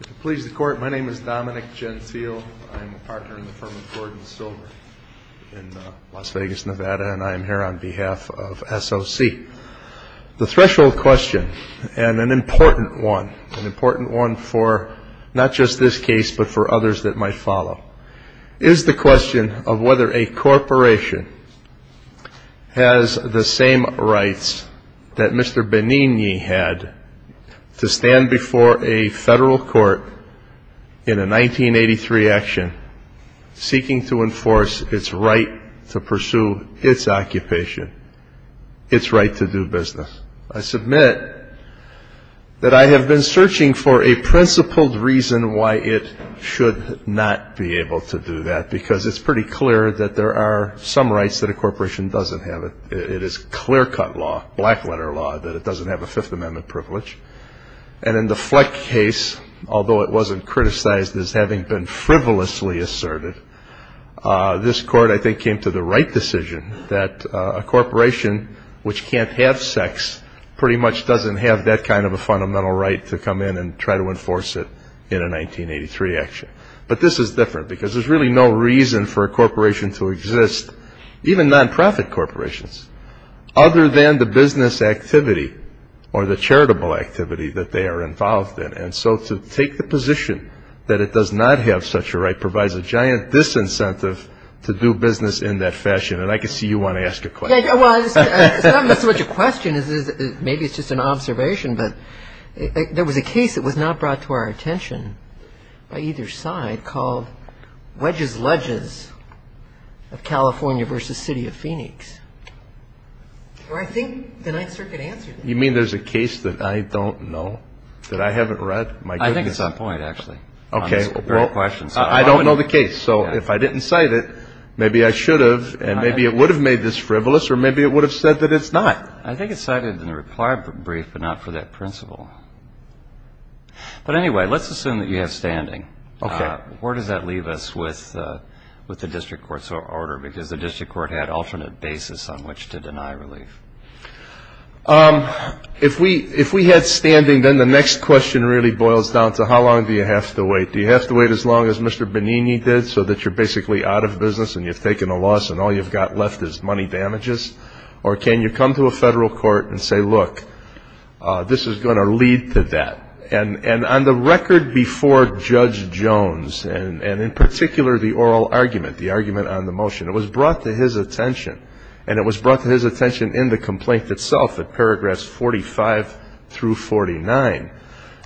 If it pleases the Court, my name is Dominic Jenseel. I'm a partner in the firm of Gordon Silver in Las Vegas, Nevada, and I'm here on behalf of SOC. The threshold question, and an important one, an important one for not just this case but for others that might follow, is the question of whether a corporation has the same rights that Mr. Benigni had to stand before a federal court in a 1983 action seeking to enforce its right to pursue its occupation, its right to do business. I submit that I have been searching for a principled reason why it should not be able to do that, because it's pretty clear that there are some rights that a corporation doesn't have. It is clear-cut law, black-letter law, that it doesn't have a Fifth Amendment privilege. And in the Fleck case, although it wasn't criticized as having been frivolously asserted, this Court, I think, came to the right decision that a corporation which can't have sex pretty much doesn't have that kind of a fundamental right to come in and try to enforce it in a 1983 action. But this is different, because there's really no reason for a corporation to exist, even nonprofit corporations, other than the business activity or the charitable activity that they are involved in. And so to take the position that it does not have such a right provides a giant disincentive to do business in that fashion. And I can see you want to ask a question. Well, it's not so much a question as maybe it's just an observation, but there was a case that was not brought to our attention by either side called Wedges Ledges of California v. City of Phoenix. I think the Ninth Circuit answered that. You mean there's a case that I don't know, that I haven't read? I think it's on point, actually. I don't know the case. So if I didn't cite it, maybe I should have, and maybe it would have made this frivolous, or maybe it would have said that it's not. I think it's cited in the reply brief, but not for that principle. But anyway, let's assume that you have standing. Where does that leave us with the district court's order? Because the district court had alternate basis on which to deny relief. If we had standing, then the next question really boils down to how long do you have to wait? Do you have to wait as long as Mr. Benigni did so that you're basically out of business and you've taken a loss and all you've got left is money damages? Or can you come to a federal court and say, look, this is going to lead to that? And on the record before Judge Jones, and in particular the oral argument, the argument on the motion, it was brought to his attention, and it was brought to his attention in the complaint itself at paragraphs 45 through 49,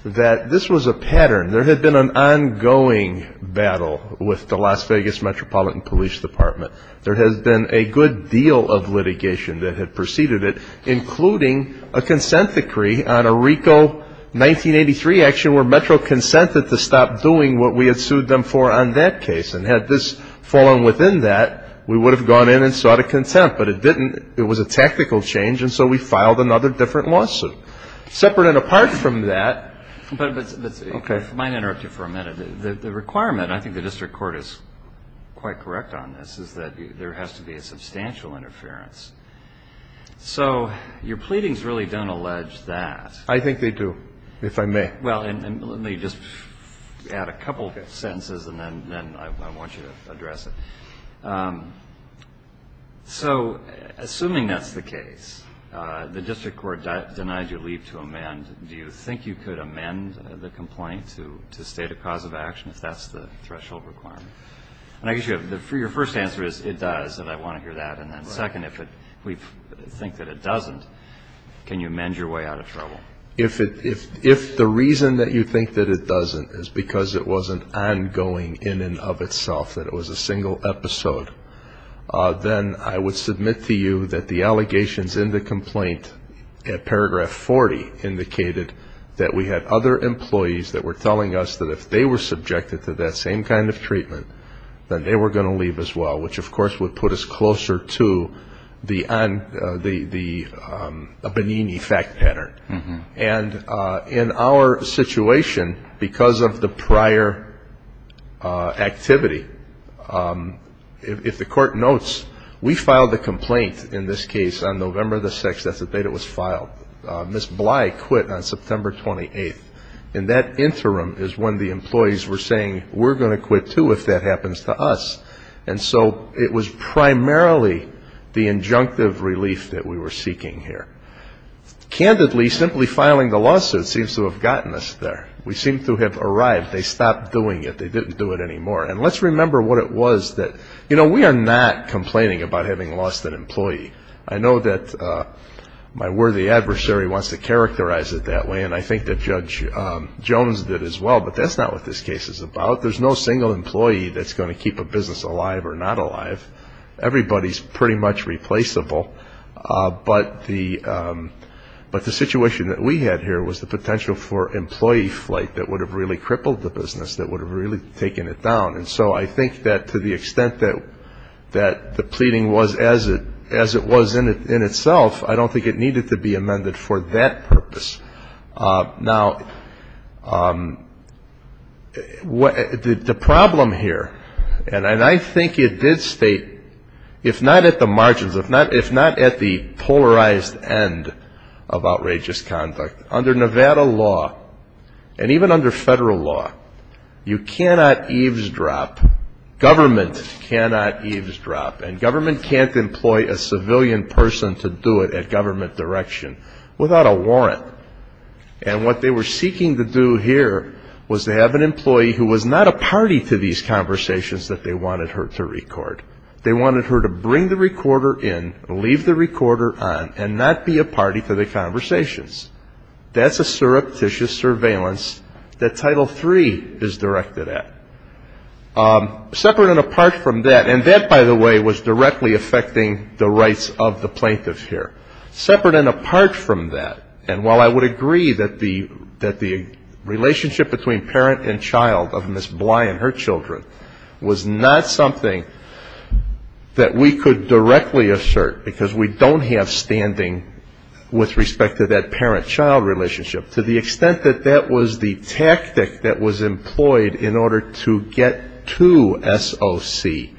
that this was a pattern. There had been an ongoing battle with the Las Vegas Metropolitan Police Department. There has been a good deal of litigation that had preceded it, including a consent decree on a RICO 1983 action where Metro consented to stop doing what we had sued them for on that case. And had this fallen within that, we would have gone in and sought a contempt. But it didn't. It was a tactical change, and so we filed another different lawsuit. Separate and apart from that. Okay. I might interrupt you for a minute. The requirement, and I think the district court is quite correct on this, is that there has to be a substantial interference. So your pleadings really don't allege that. I think they do, if I may. Well, let me just add a couple of sentences, and then I want you to address it. So assuming that's the case, the district court denied you leave to amend, do you think you could amend the complaint to state a cause of action if that's the threshold requirement? And I guess your first answer is it does, and I want to hear that. And then second, if we think that it doesn't, can you amend your way out of trouble? If the reason that you think that it doesn't is because it wasn't ongoing in and of itself, that it was a single episode, then I would submit to you that the allegations in the complaint at paragraph 40 indicated that we had other employees that were telling us that if they were subjected to that same kind of treatment, then they were going to leave as well, which, of course, would put us closer to the Benigni fact pattern. And in our situation, because of the prior activity, if the court notes, we filed the complaint in this case on November the 6th, that's the date it was filed. Ms. Bly quit on September 28th, and that interim is when the employees were saying, we're going to quit too if that happens to us. And so it was primarily the injunctive relief that we were seeking here. Candidly, simply filing the lawsuit seems to have gotten us there. We seem to have arrived. They stopped doing it. They didn't do it anymore. And let's remember what it was that we are not complaining about having lost an employee. I know that my worthy adversary wants to characterize it that way, and I think that Judge Jones did as well, but that's not what this case is about. There's no single employee that's going to keep a business alive or not alive. Everybody's pretty much replaceable. But the situation that we had here was the potential for employee flight that would have really crippled the business, that would have really taken it down. And so I think that to the extent that the pleading was as it was in itself, I don't think it needed to be amended for that purpose. Now, the problem here, and I think it did state, if not at the margins, if not at the polarized end of outrageous conduct, under Nevada law, and even under federal law, you cannot eavesdrop, government cannot eavesdrop, and government can't employ a civilian person to do it at government direction without a warrant. And what they were seeking to do here was to have an employee who was not a party to these conversations that they wanted her to record. They wanted her to bring the recorder in, leave the recorder on, and not be a party to the conversations. That's a surreptitious surveillance that Title III is directed at. Separate and apart from that, and that, by the way, was directly affecting the rights of the plaintiff here. Separate and apart from that, and while I would agree that the relationship between parent and child of Ms. Bly and her children was not something that we could directly assert, because we don't have standing with respect to that parent-child relationship, to the extent that that was the tactic that was employed in order to get to SOC,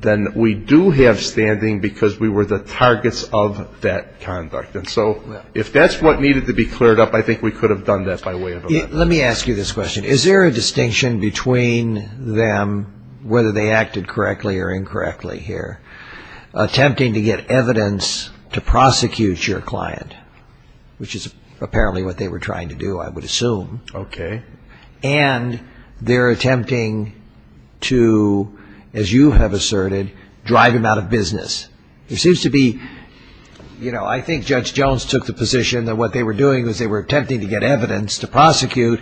then we do have standing because we were the targets of that conduct. And so if that's what needed to be cleared up, I think we could have done that by way of a warrant. Let me ask you this question. Is there a distinction between them, whether they acted correctly or incorrectly here, attempting to get evidence to prosecute your client, which is apparently what they were trying to do, I would assume. Okay. And they're attempting to, as you have asserted, drive him out of business. There seems to be, you know, I think Judge Jones took the position that what they were doing was they were attempting to get evidence to prosecute.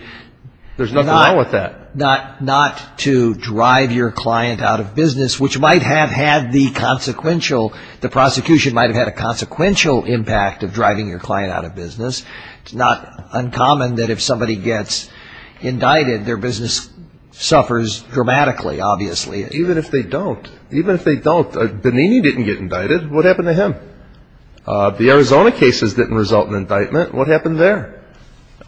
There's nothing wrong with that. But not to drive your client out of business, which might have had the consequential, the prosecution might have had a consequential impact of driving your client out of business. It's not uncommon that if somebody gets indicted, their business suffers dramatically, obviously. Even if they don't, even if they don't, Benini didn't get indicted. What happened to him? The Arizona cases didn't result in indictment. What happened there?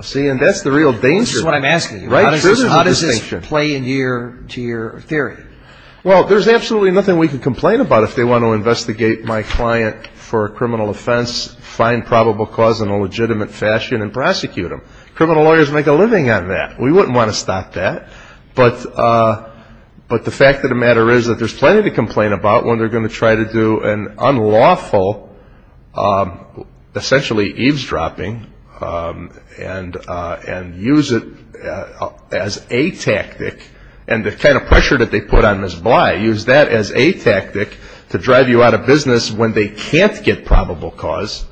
See, and that's the real danger. That's what I'm asking you. How does this play into your theory? Well, there's absolutely nothing we can complain about if they want to investigate my client for a criminal offense, find probable cause in a legitimate fashion, and prosecute him. Criminal lawyers make a living on that. We wouldn't want to stop that. But the fact of the matter is that there's plenty to complain about when they're going to try to do an unlawful, essentially eavesdropping, and use it as a tactic, and the kind of pressure that they put on Ms. Bly, use that as a tactic to drive you out of business when they can't get probable cause.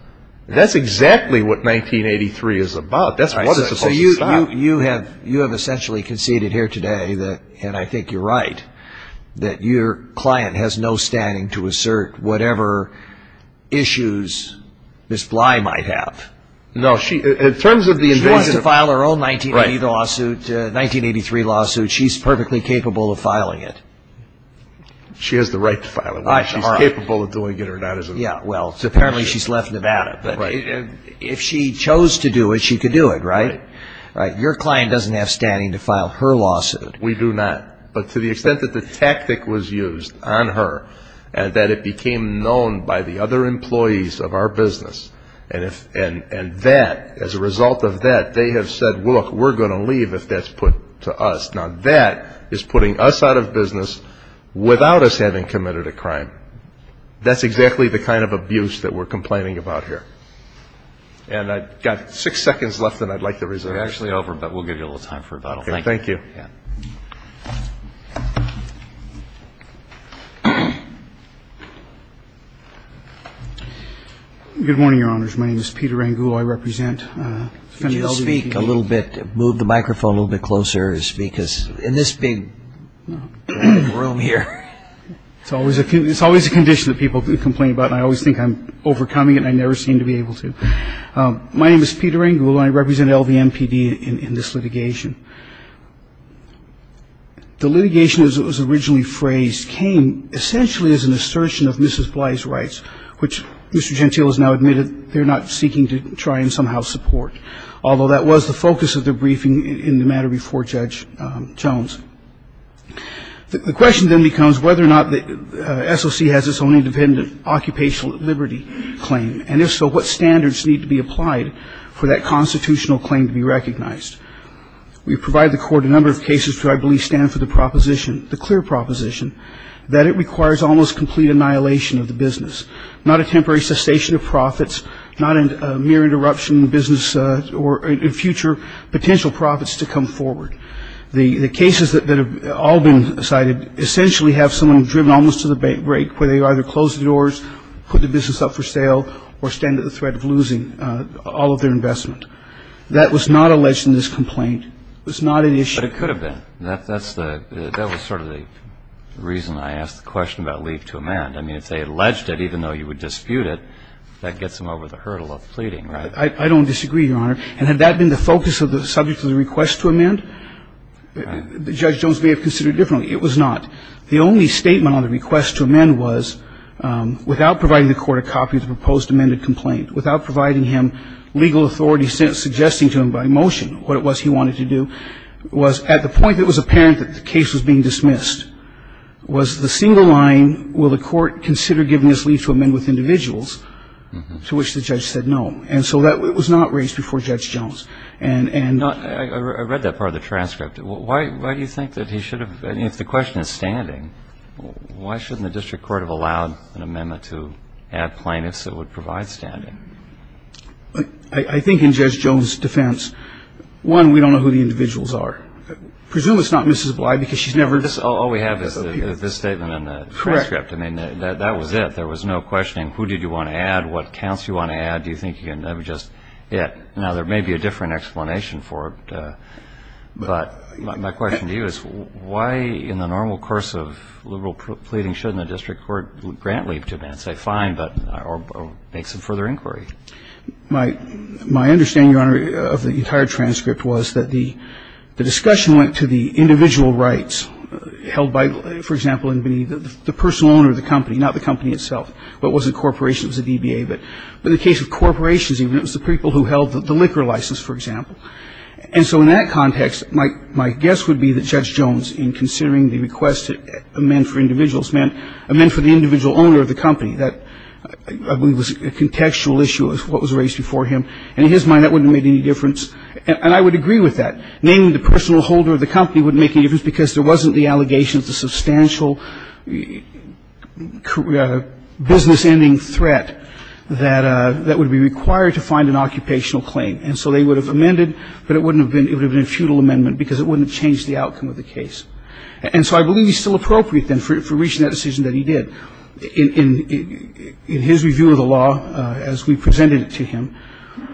That's exactly what 1983 is about. That's what it's supposed to stop. You have essentially conceded here today, and I think you're right, that your client has no standing to assert whatever issues Ms. Bly might have. No. She wants to file her own 1983 lawsuit. She's perfectly capable of filing it. She has the right to file it. She's capable of doing it or not. Well, apparently she's left Nevada. But if she chose to do it, she could do it, right? Right. Your client doesn't have standing to file her lawsuit. We do not. But to the extent that the tactic was used on her, and that it became known by the other employees of our business, and that, as a result of that, they have said, look, we're going to leave if that's put to us. Now, that is putting us out of business without us having committed a crime. That's exactly the kind of abuse that we're complaining about here. And I've got six seconds left, and I'd like to reserve it. We're actually over, but we'll give you a little time for rebuttal. Thank you. Thank you. Good morning, Your Honors. My name is Peter Rangulo. I represent defendant LVMPD. Could you speak a little bit, move the microphone a little bit closer and speak in this big room here? It's always a condition that people complain about, and I always think I'm overcoming it, and I never seem to be able to. My name is Peter Rangulo. I represent LVMPD in this litigation. The litigation as it was originally phrased came essentially as an assertion of Mrs. Bly's rights, which Mr. Gentile has now admitted they're not seeking to try and somehow support, although that was the focus of the briefing in the matter before Judge Jones. The question then becomes whether or not the SOC has its own independent occupational liberty claim, and if so, what standards need to be applied for that constitutional claim to be recognized. We've provided the court a number of cases that I believe stand for the proposition, the clear proposition, that it requires almost complete annihilation of the business, not a temporary cessation of profits, not a mere interruption in business or in future potential profits to come forward. The cases that have all been cited essentially have someone driven almost to the brink, where they either close the doors, put the business up for sale, or stand at the threat of losing all of their investment. That was not alleged in this complaint. It was not an issue. But it could have been. That was sort of the reason I asked the question about leave to amend. I mean, if they alleged it, even though you would dispute it, that gets them over the hurdle of pleading, right? I don't disagree, Your Honor. And had that been the focus of the subject of the request to amend, Judge Jones may have considered it differently. It was not. The only statement on the request to amend was, without providing the court a copy of the proposed amended complaint, without providing him legal authority suggesting to him by motion what it was he wanted to do, was at the point that it was apparent that the case was being dismissed, was the single line, will the court consider giving this leave to amend with individuals, to which the judge said no. And so that was not raised before Judge Jones. And not ñ I read that part of the transcript. Why do you think that he should have ñ if the question is standing, why shouldn't the district court have allowed an amendment to add plaintiffs that would provide standing? I think in Judge Jones' defense, one, we don't know who the individuals are. I presume it's not Mrs. Bly because she's never ñ All we have is this statement in the transcript. Correct. I mean, that was it. There was no questioning who did you want to add, what counts you want to add. Do you think you can ñ that was just it. Now, there may be a different explanation for it, but my question to you is, why in the normal course of liberal pleading shouldn't the district court grant leave to amend, say fine, but ñ or make some further inquiry? My understanding, Your Honor, of the entire transcript was that the discussion went to the individual rights held by, for example, the personal owner of the company, not the company itself, but it wasn't corporations, it was the DBA. But in the case of corporations, even, it was the people who held the liquor license, for example. And so in that context, my guess would be that Judge Jones, in considering the request to amend for individuals, meant amend for the individual owner of the company. That, I believe, was a contextual issue of what was raised before him. And in his mind, that wouldn't have made any difference. And I would agree with that. Naming the personal holder of the company wouldn't make any difference because there wasn't the allegation of the substantial business-ending threat that would be required to find an occupational claim. And so they would have amended, but it would have been a futile amendment because it wouldn't have changed the outcome of the case. And so I believe he's still appropriate, then, for reaching that decision that he did. In his review of the law, as we presented it to him,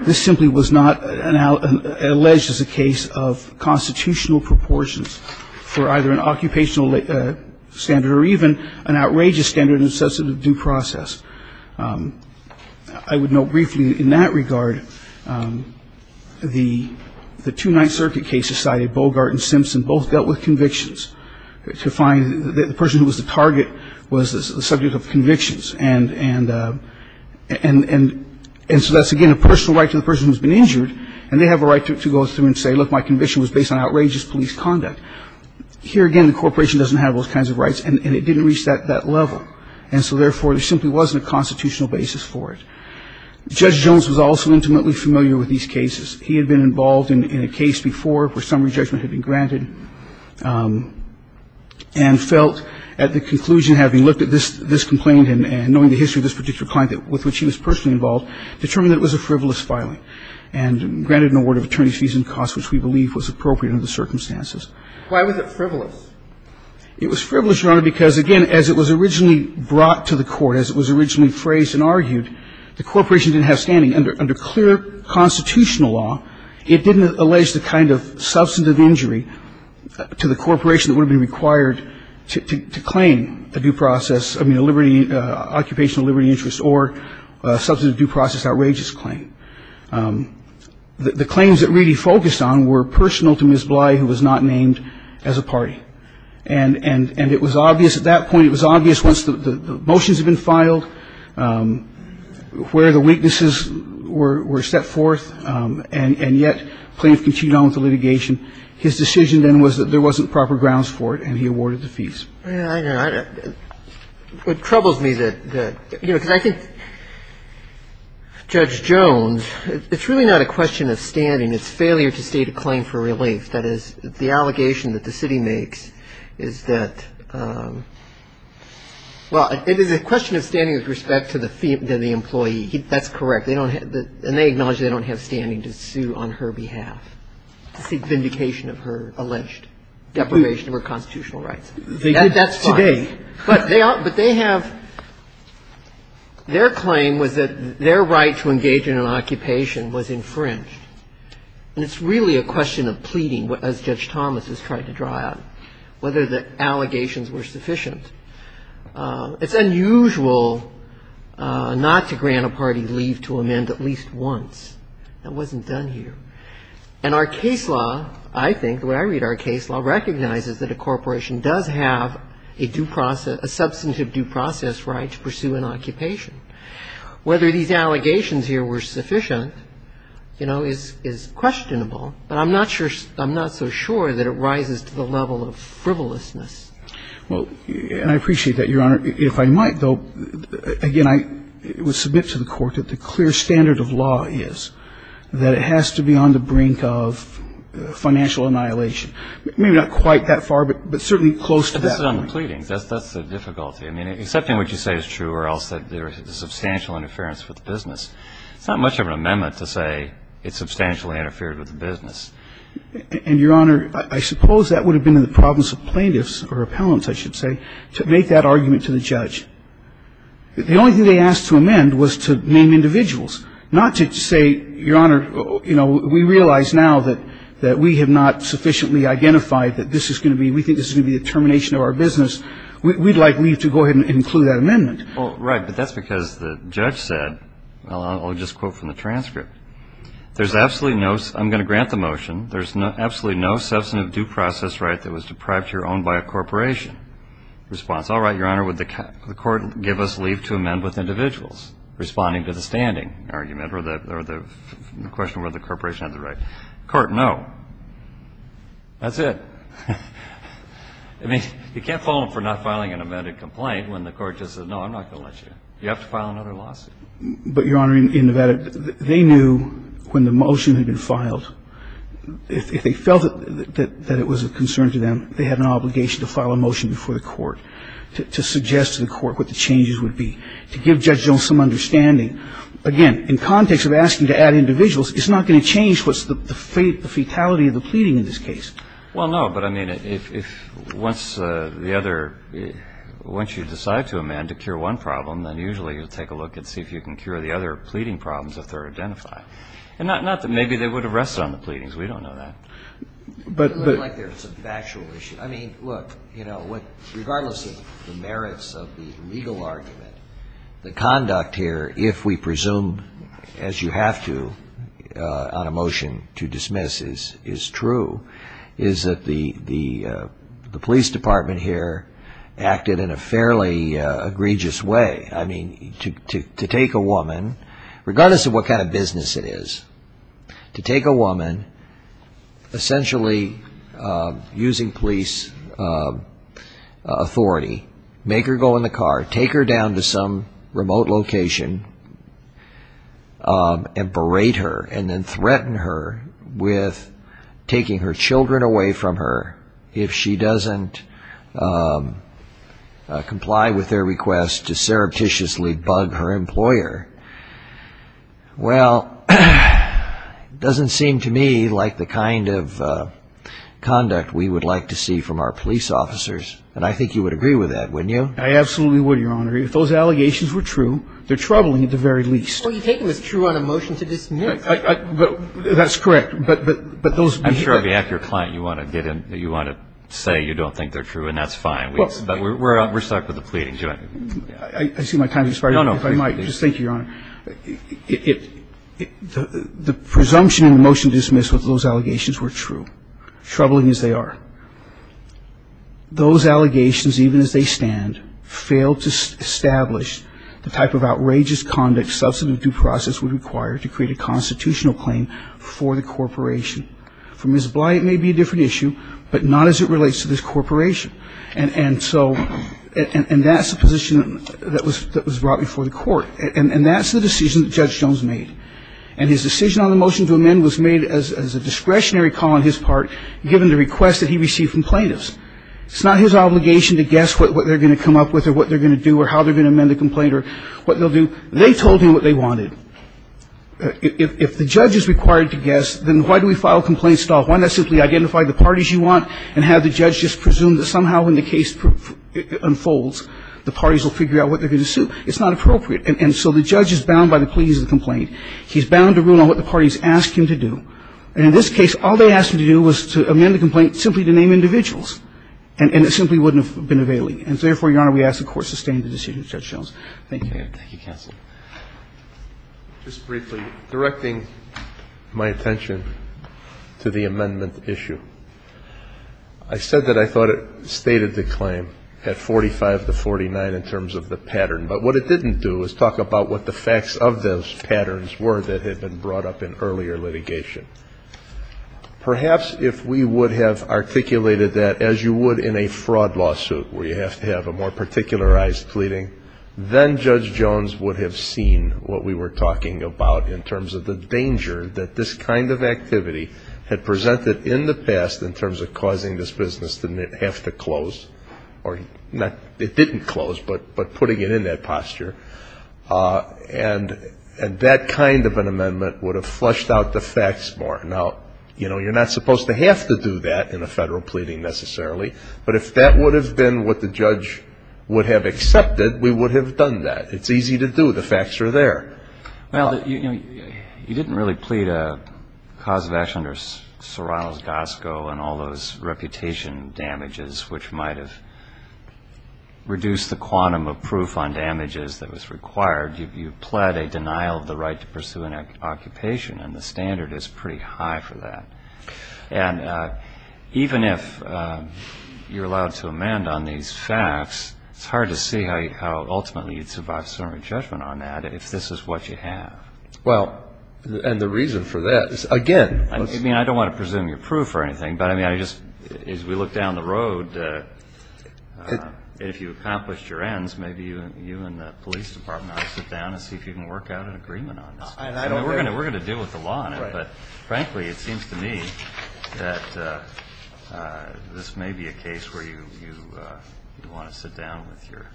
this simply was not alleged as a case of constitutional proportions for either an occupational standard or even an outrageous standard and substantive due process. I would note briefly, in that regard, the two Ninth Circuit cases cited, Bogart and Simpson, both dealt with convictions. To find the person who was the target was the subject of convictions. And so that's, again, a personal right to the person who's been injured. And they have a right to go through and say, look, my conviction was based on outrageous police conduct. Here, again, the corporation doesn't have those kinds of rights, and it didn't reach that level. And so, therefore, there simply wasn't a constitutional basis for it. Judge Jones was also intimately familiar with these cases. He had been involved in a case before where summary judgment had been granted and felt, at the conclusion, having looked at this complaint and knowing the history of this particular client with which he was personally involved, determined that it was a frivolous filing and granted an award of attorney's fees and costs, which we believe was appropriate under the circumstances. Why was it frivolous? It was frivolous, Your Honor, because, again, as it was originally brought to the court, as it was originally phrased and argued, the corporation didn't have standing. Under clear constitutional law, it didn't allege the kind of substantive injury to the corporation that would have been required to claim a due process, I mean, an occupational liberty interest or substantive due process outrageous claim. The claims that Reedy focused on were personal to Ms. Bly, who was not named as a party. And it was obvious at that point, it was obvious once the motions had been filed, where the weaknesses were set forth, and yet plaintiff continued on with the litigation, his decision then was that there wasn't proper grounds for it, and he awarded the fees. I know. It troubles me that, you know, because I think Judge Jones, it's really not a question of standing. It's failure to state a claim for relief. That is, the allegation that the city makes is that, well, it is a question of standing with respect to the employee. That's correct. And they acknowledge they don't have standing to sue on her behalf, to seek vindication of her alleged deprivation of her constitutional rights. They did that today. That's fine. But they have – their claim was that their right to engage in an occupation was infringed. And it's really a question of pleading, as Judge Thomas has tried to draw out, whether the allegations were sufficient. It's unusual not to grant a party leave to amend at least once. That wasn't done here. And our case law, I think, the way I read our case law, recognizes that a corporation does have a due process – a substantive due process right to pursue an occupation. Whether these allegations here were sufficient, you know, is questionable. But I'm not sure – I'm not so sure that it rises to the level of frivolousness. Well, and I appreciate that, Your Honor. If I might, though, again, I would submit to the Court that the clear standard of law is that it has to be on the brink of financial annihilation. Maybe not quite that far, but certainly close to that point. But this is on the pleadings. That's the difficulty. I mean, accepting what you say is true or else that there is substantial interference with the business, it's not much of an amendment to say it substantially interfered with the business. And, Your Honor, I suppose that would have been in the province of plaintiffs or appellants, I should say, to make that argument to the judge. The only thing they asked to amend was to name individuals, not to say, Your Honor, you know, we realize now that we have not sufficiently identified that this is going to be – we think this is going to be the termination of our business. We'd like you to go ahead and include that amendment. Well, right. But that's because the judge said – I'll just quote from the transcript. There's absolutely no – I'm going to grant the motion. There's absolutely no substantive due process right that was deprived to your own by a corporation. argument and the court did not respond. All right. Your Honor, would the court give us leave to amend with individuals responding to the standing argument or the – or the question of whether the corporation has the right? The court, no. That's it. I mean, you can't fault them for not filing an amended complaint when the court just says no, I'm not going to let you. You have to file another lawsuit. But, Your Honor, in Nevada, they knew when the motion had been filed, if they felt that it was a concern to them, they had an obligation to file a motion before the court to suggest to the court what the changes would be, to give Judge Jones some understanding. Again, in context of asking to add individuals, it's not going to change what's the fatality of the pleading in this case. Well, no, but I mean, if once the other – once you decide to amend to cure one problem, then usually you'll take a look and see if you can cure the other pleading problems if they're identified. And not that maybe they would have rested on the pleadings. We don't know that. But – It doesn't look like there's a factual issue. I mean, look, you know, regardless of the merits of the legal argument, the conduct here, if we presume, as you have to on a motion to dismiss, is true, is that the police department here acted in a fairly egregious way. I mean, to take a woman, regardless of what kind of business it is, to take a woman, essentially using police authority, make her go in the car, take her down to some remote location, and berate her, and then threaten her with taking her children away from her if she doesn't comply with their request to surreptitiously bug her employer. Well, it doesn't seem to me like the kind of conduct we would like to see from our police officers. And I think you would agree with that, wouldn't you? I absolutely would, Your Honor. If those allegations were true, they're troubling at the very least. Well, you're taking this true on a motion to dismiss. That's correct. But those – I'm sure if you have your client, you want to get in – you want to say you don't think they're true, and that's fine. But we're stuck with the pleading. I see my time has expired. No, no. If I might, just thank you, Your Honor. The presumption in the motion to dismiss with those allegations were true, troubling as they are. Those allegations, even as they stand, fail to establish the type of outrageous conduct substantive due process would require to create a constitutional claim for the corporation. For Ms. Bly, it may be a different issue, but not as it relates to this corporation. And so – and that's the position that was brought before the Court. And that's the decision that Judge Jones made. And his decision on the motion to amend was made as a discretionary call on his part given the request that he received from plaintiffs. It's not his obligation to guess what they're going to come up with or what they're going to do or how they're going to amend the complaint or what they'll do. They told him what they wanted. If the judge is required to guess, then why do we file complaints at all? Why not simply identify the parties you want and have the judge just presume that somehow when the case unfolds, the parties will figure out what they're going to sue? It's not appropriate. And so the judge is bound by the pleas of the complaint. He's bound to rule on what the parties ask him to do. And in this case, all they asked him to do was to amend the complaint simply to name individuals. And it simply wouldn't have been availing. And so therefore, Your Honor, we ask the Court sustain the decision of Judge Jones. Thank you. Thank you, counsel. Just briefly, directing my attention to the amendment issue. I said that I thought it stated the claim at 45 to 49 in terms of the pattern. But what it didn't do is talk about what the facts of those patterns were that had been brought up in earlier litigation. Perhaps if we would have articulated that as you would in a fraud lawsuit where you have to have a more particularized pleading, then Judge Jones would have seen what we were talking about in terms of the danger that this kind of activity had presented in the past in terms of causing this business to have to close. Or it didn't close, but putting it in that posture. And that kind of an amendment would have flushed out the facts more. Now, you know, you're not supposed to have to do that in a federal pleading necessarily. But if that would have been what the judge would have accepted, we would have done that. It's easy to do. The facts are there. Well, you know, you didn't really plead a cause of action under Sir Ronald Gosco and all those reputation damages which might have reduced the quantum of proof on damages that was required. You pled a denial of the right to pursue an occupation, and the standard is pretty high for that. And even if you're allowed to amend on these facts, it's hard to see how ultimately you'd survive summary judgment on that if this is what you have. Well, and the reason for that is, again, let's see. I mean, I don't want to presume your proof or anything, but, I mean, I just, as we look down the road, if you accomplished your ends, maybe you and the police department ought to sit down and see if you can work out an agreement on this. We're going to deal with the law on it. But, frankly, it seems to me that this may be a case where you want to sit down with your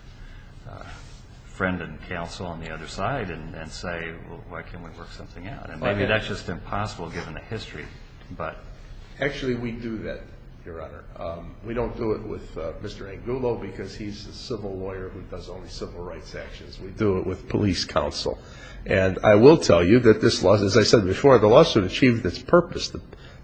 friend and counsel on the other side and say, well, why can't we work something out? And maybe that's just impossible given the history, but. Actually, we do that, Your Honor. We don't do it with Mr. Angulo because he's a civil lawyer who does only civil rights actions. We do it with police counsel. And I will tell you that this lawsuit, as I said before, the lawsuit achieved its purpose.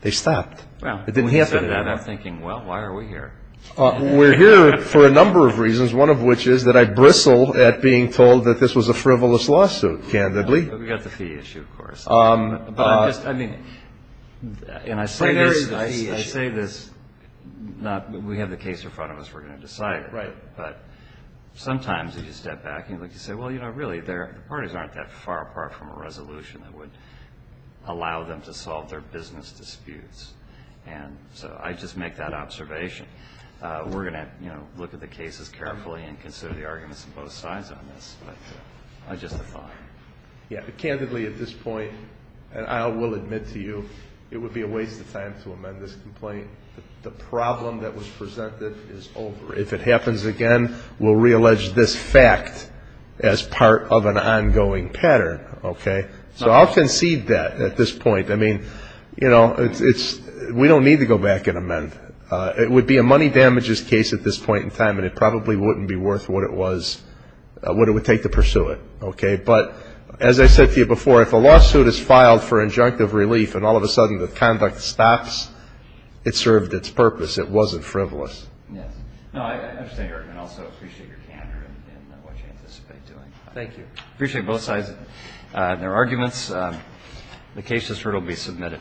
They stopped. It didn't happen. Well, when you said that, I'm thinking, well, why are we here? We're here for a number of reasons, one of which is that I bristle at being told that this was a frivolous lawsuit, candidly. We've got the fee issue, of course. But I'm just, I mean, and I say this not, we have the case in front of us, we're going to decide it. Right. But sometimes if you step back and you say, well, you know, really, the parties aren't that far apart from a resolution that would allow them to solve their business disputes. And so I just make that observation. We're going to, you know, look at the cases carefully and consider the arguments on both sides on this. But just a thought. Yeah. Candidly, at this point, and I will admit to you, it would be a waste of time to amend this complaint. The problem that was presented is over. If it happens again, we'll reallege this fact as part of an ongoing pattern. Okay. So I'll concede that at this point. I mean, you know, it's, we don't need to go back and amend. It would be a money damages case at this point in time, and it probably wouldn't be worth what it was, what it would take to pursue it. Okay. But as I said to you before, if a lawsuit is filed for injunctive relief and all of a sudden the conduct stops, it served its purpose. It wasn't frivolous. Yes. No, I understand your argument. I also appreciate your candor and what you anticipate doing. Thank you. Appreciate both sides and their arguments. The case is heard. It will be submitted.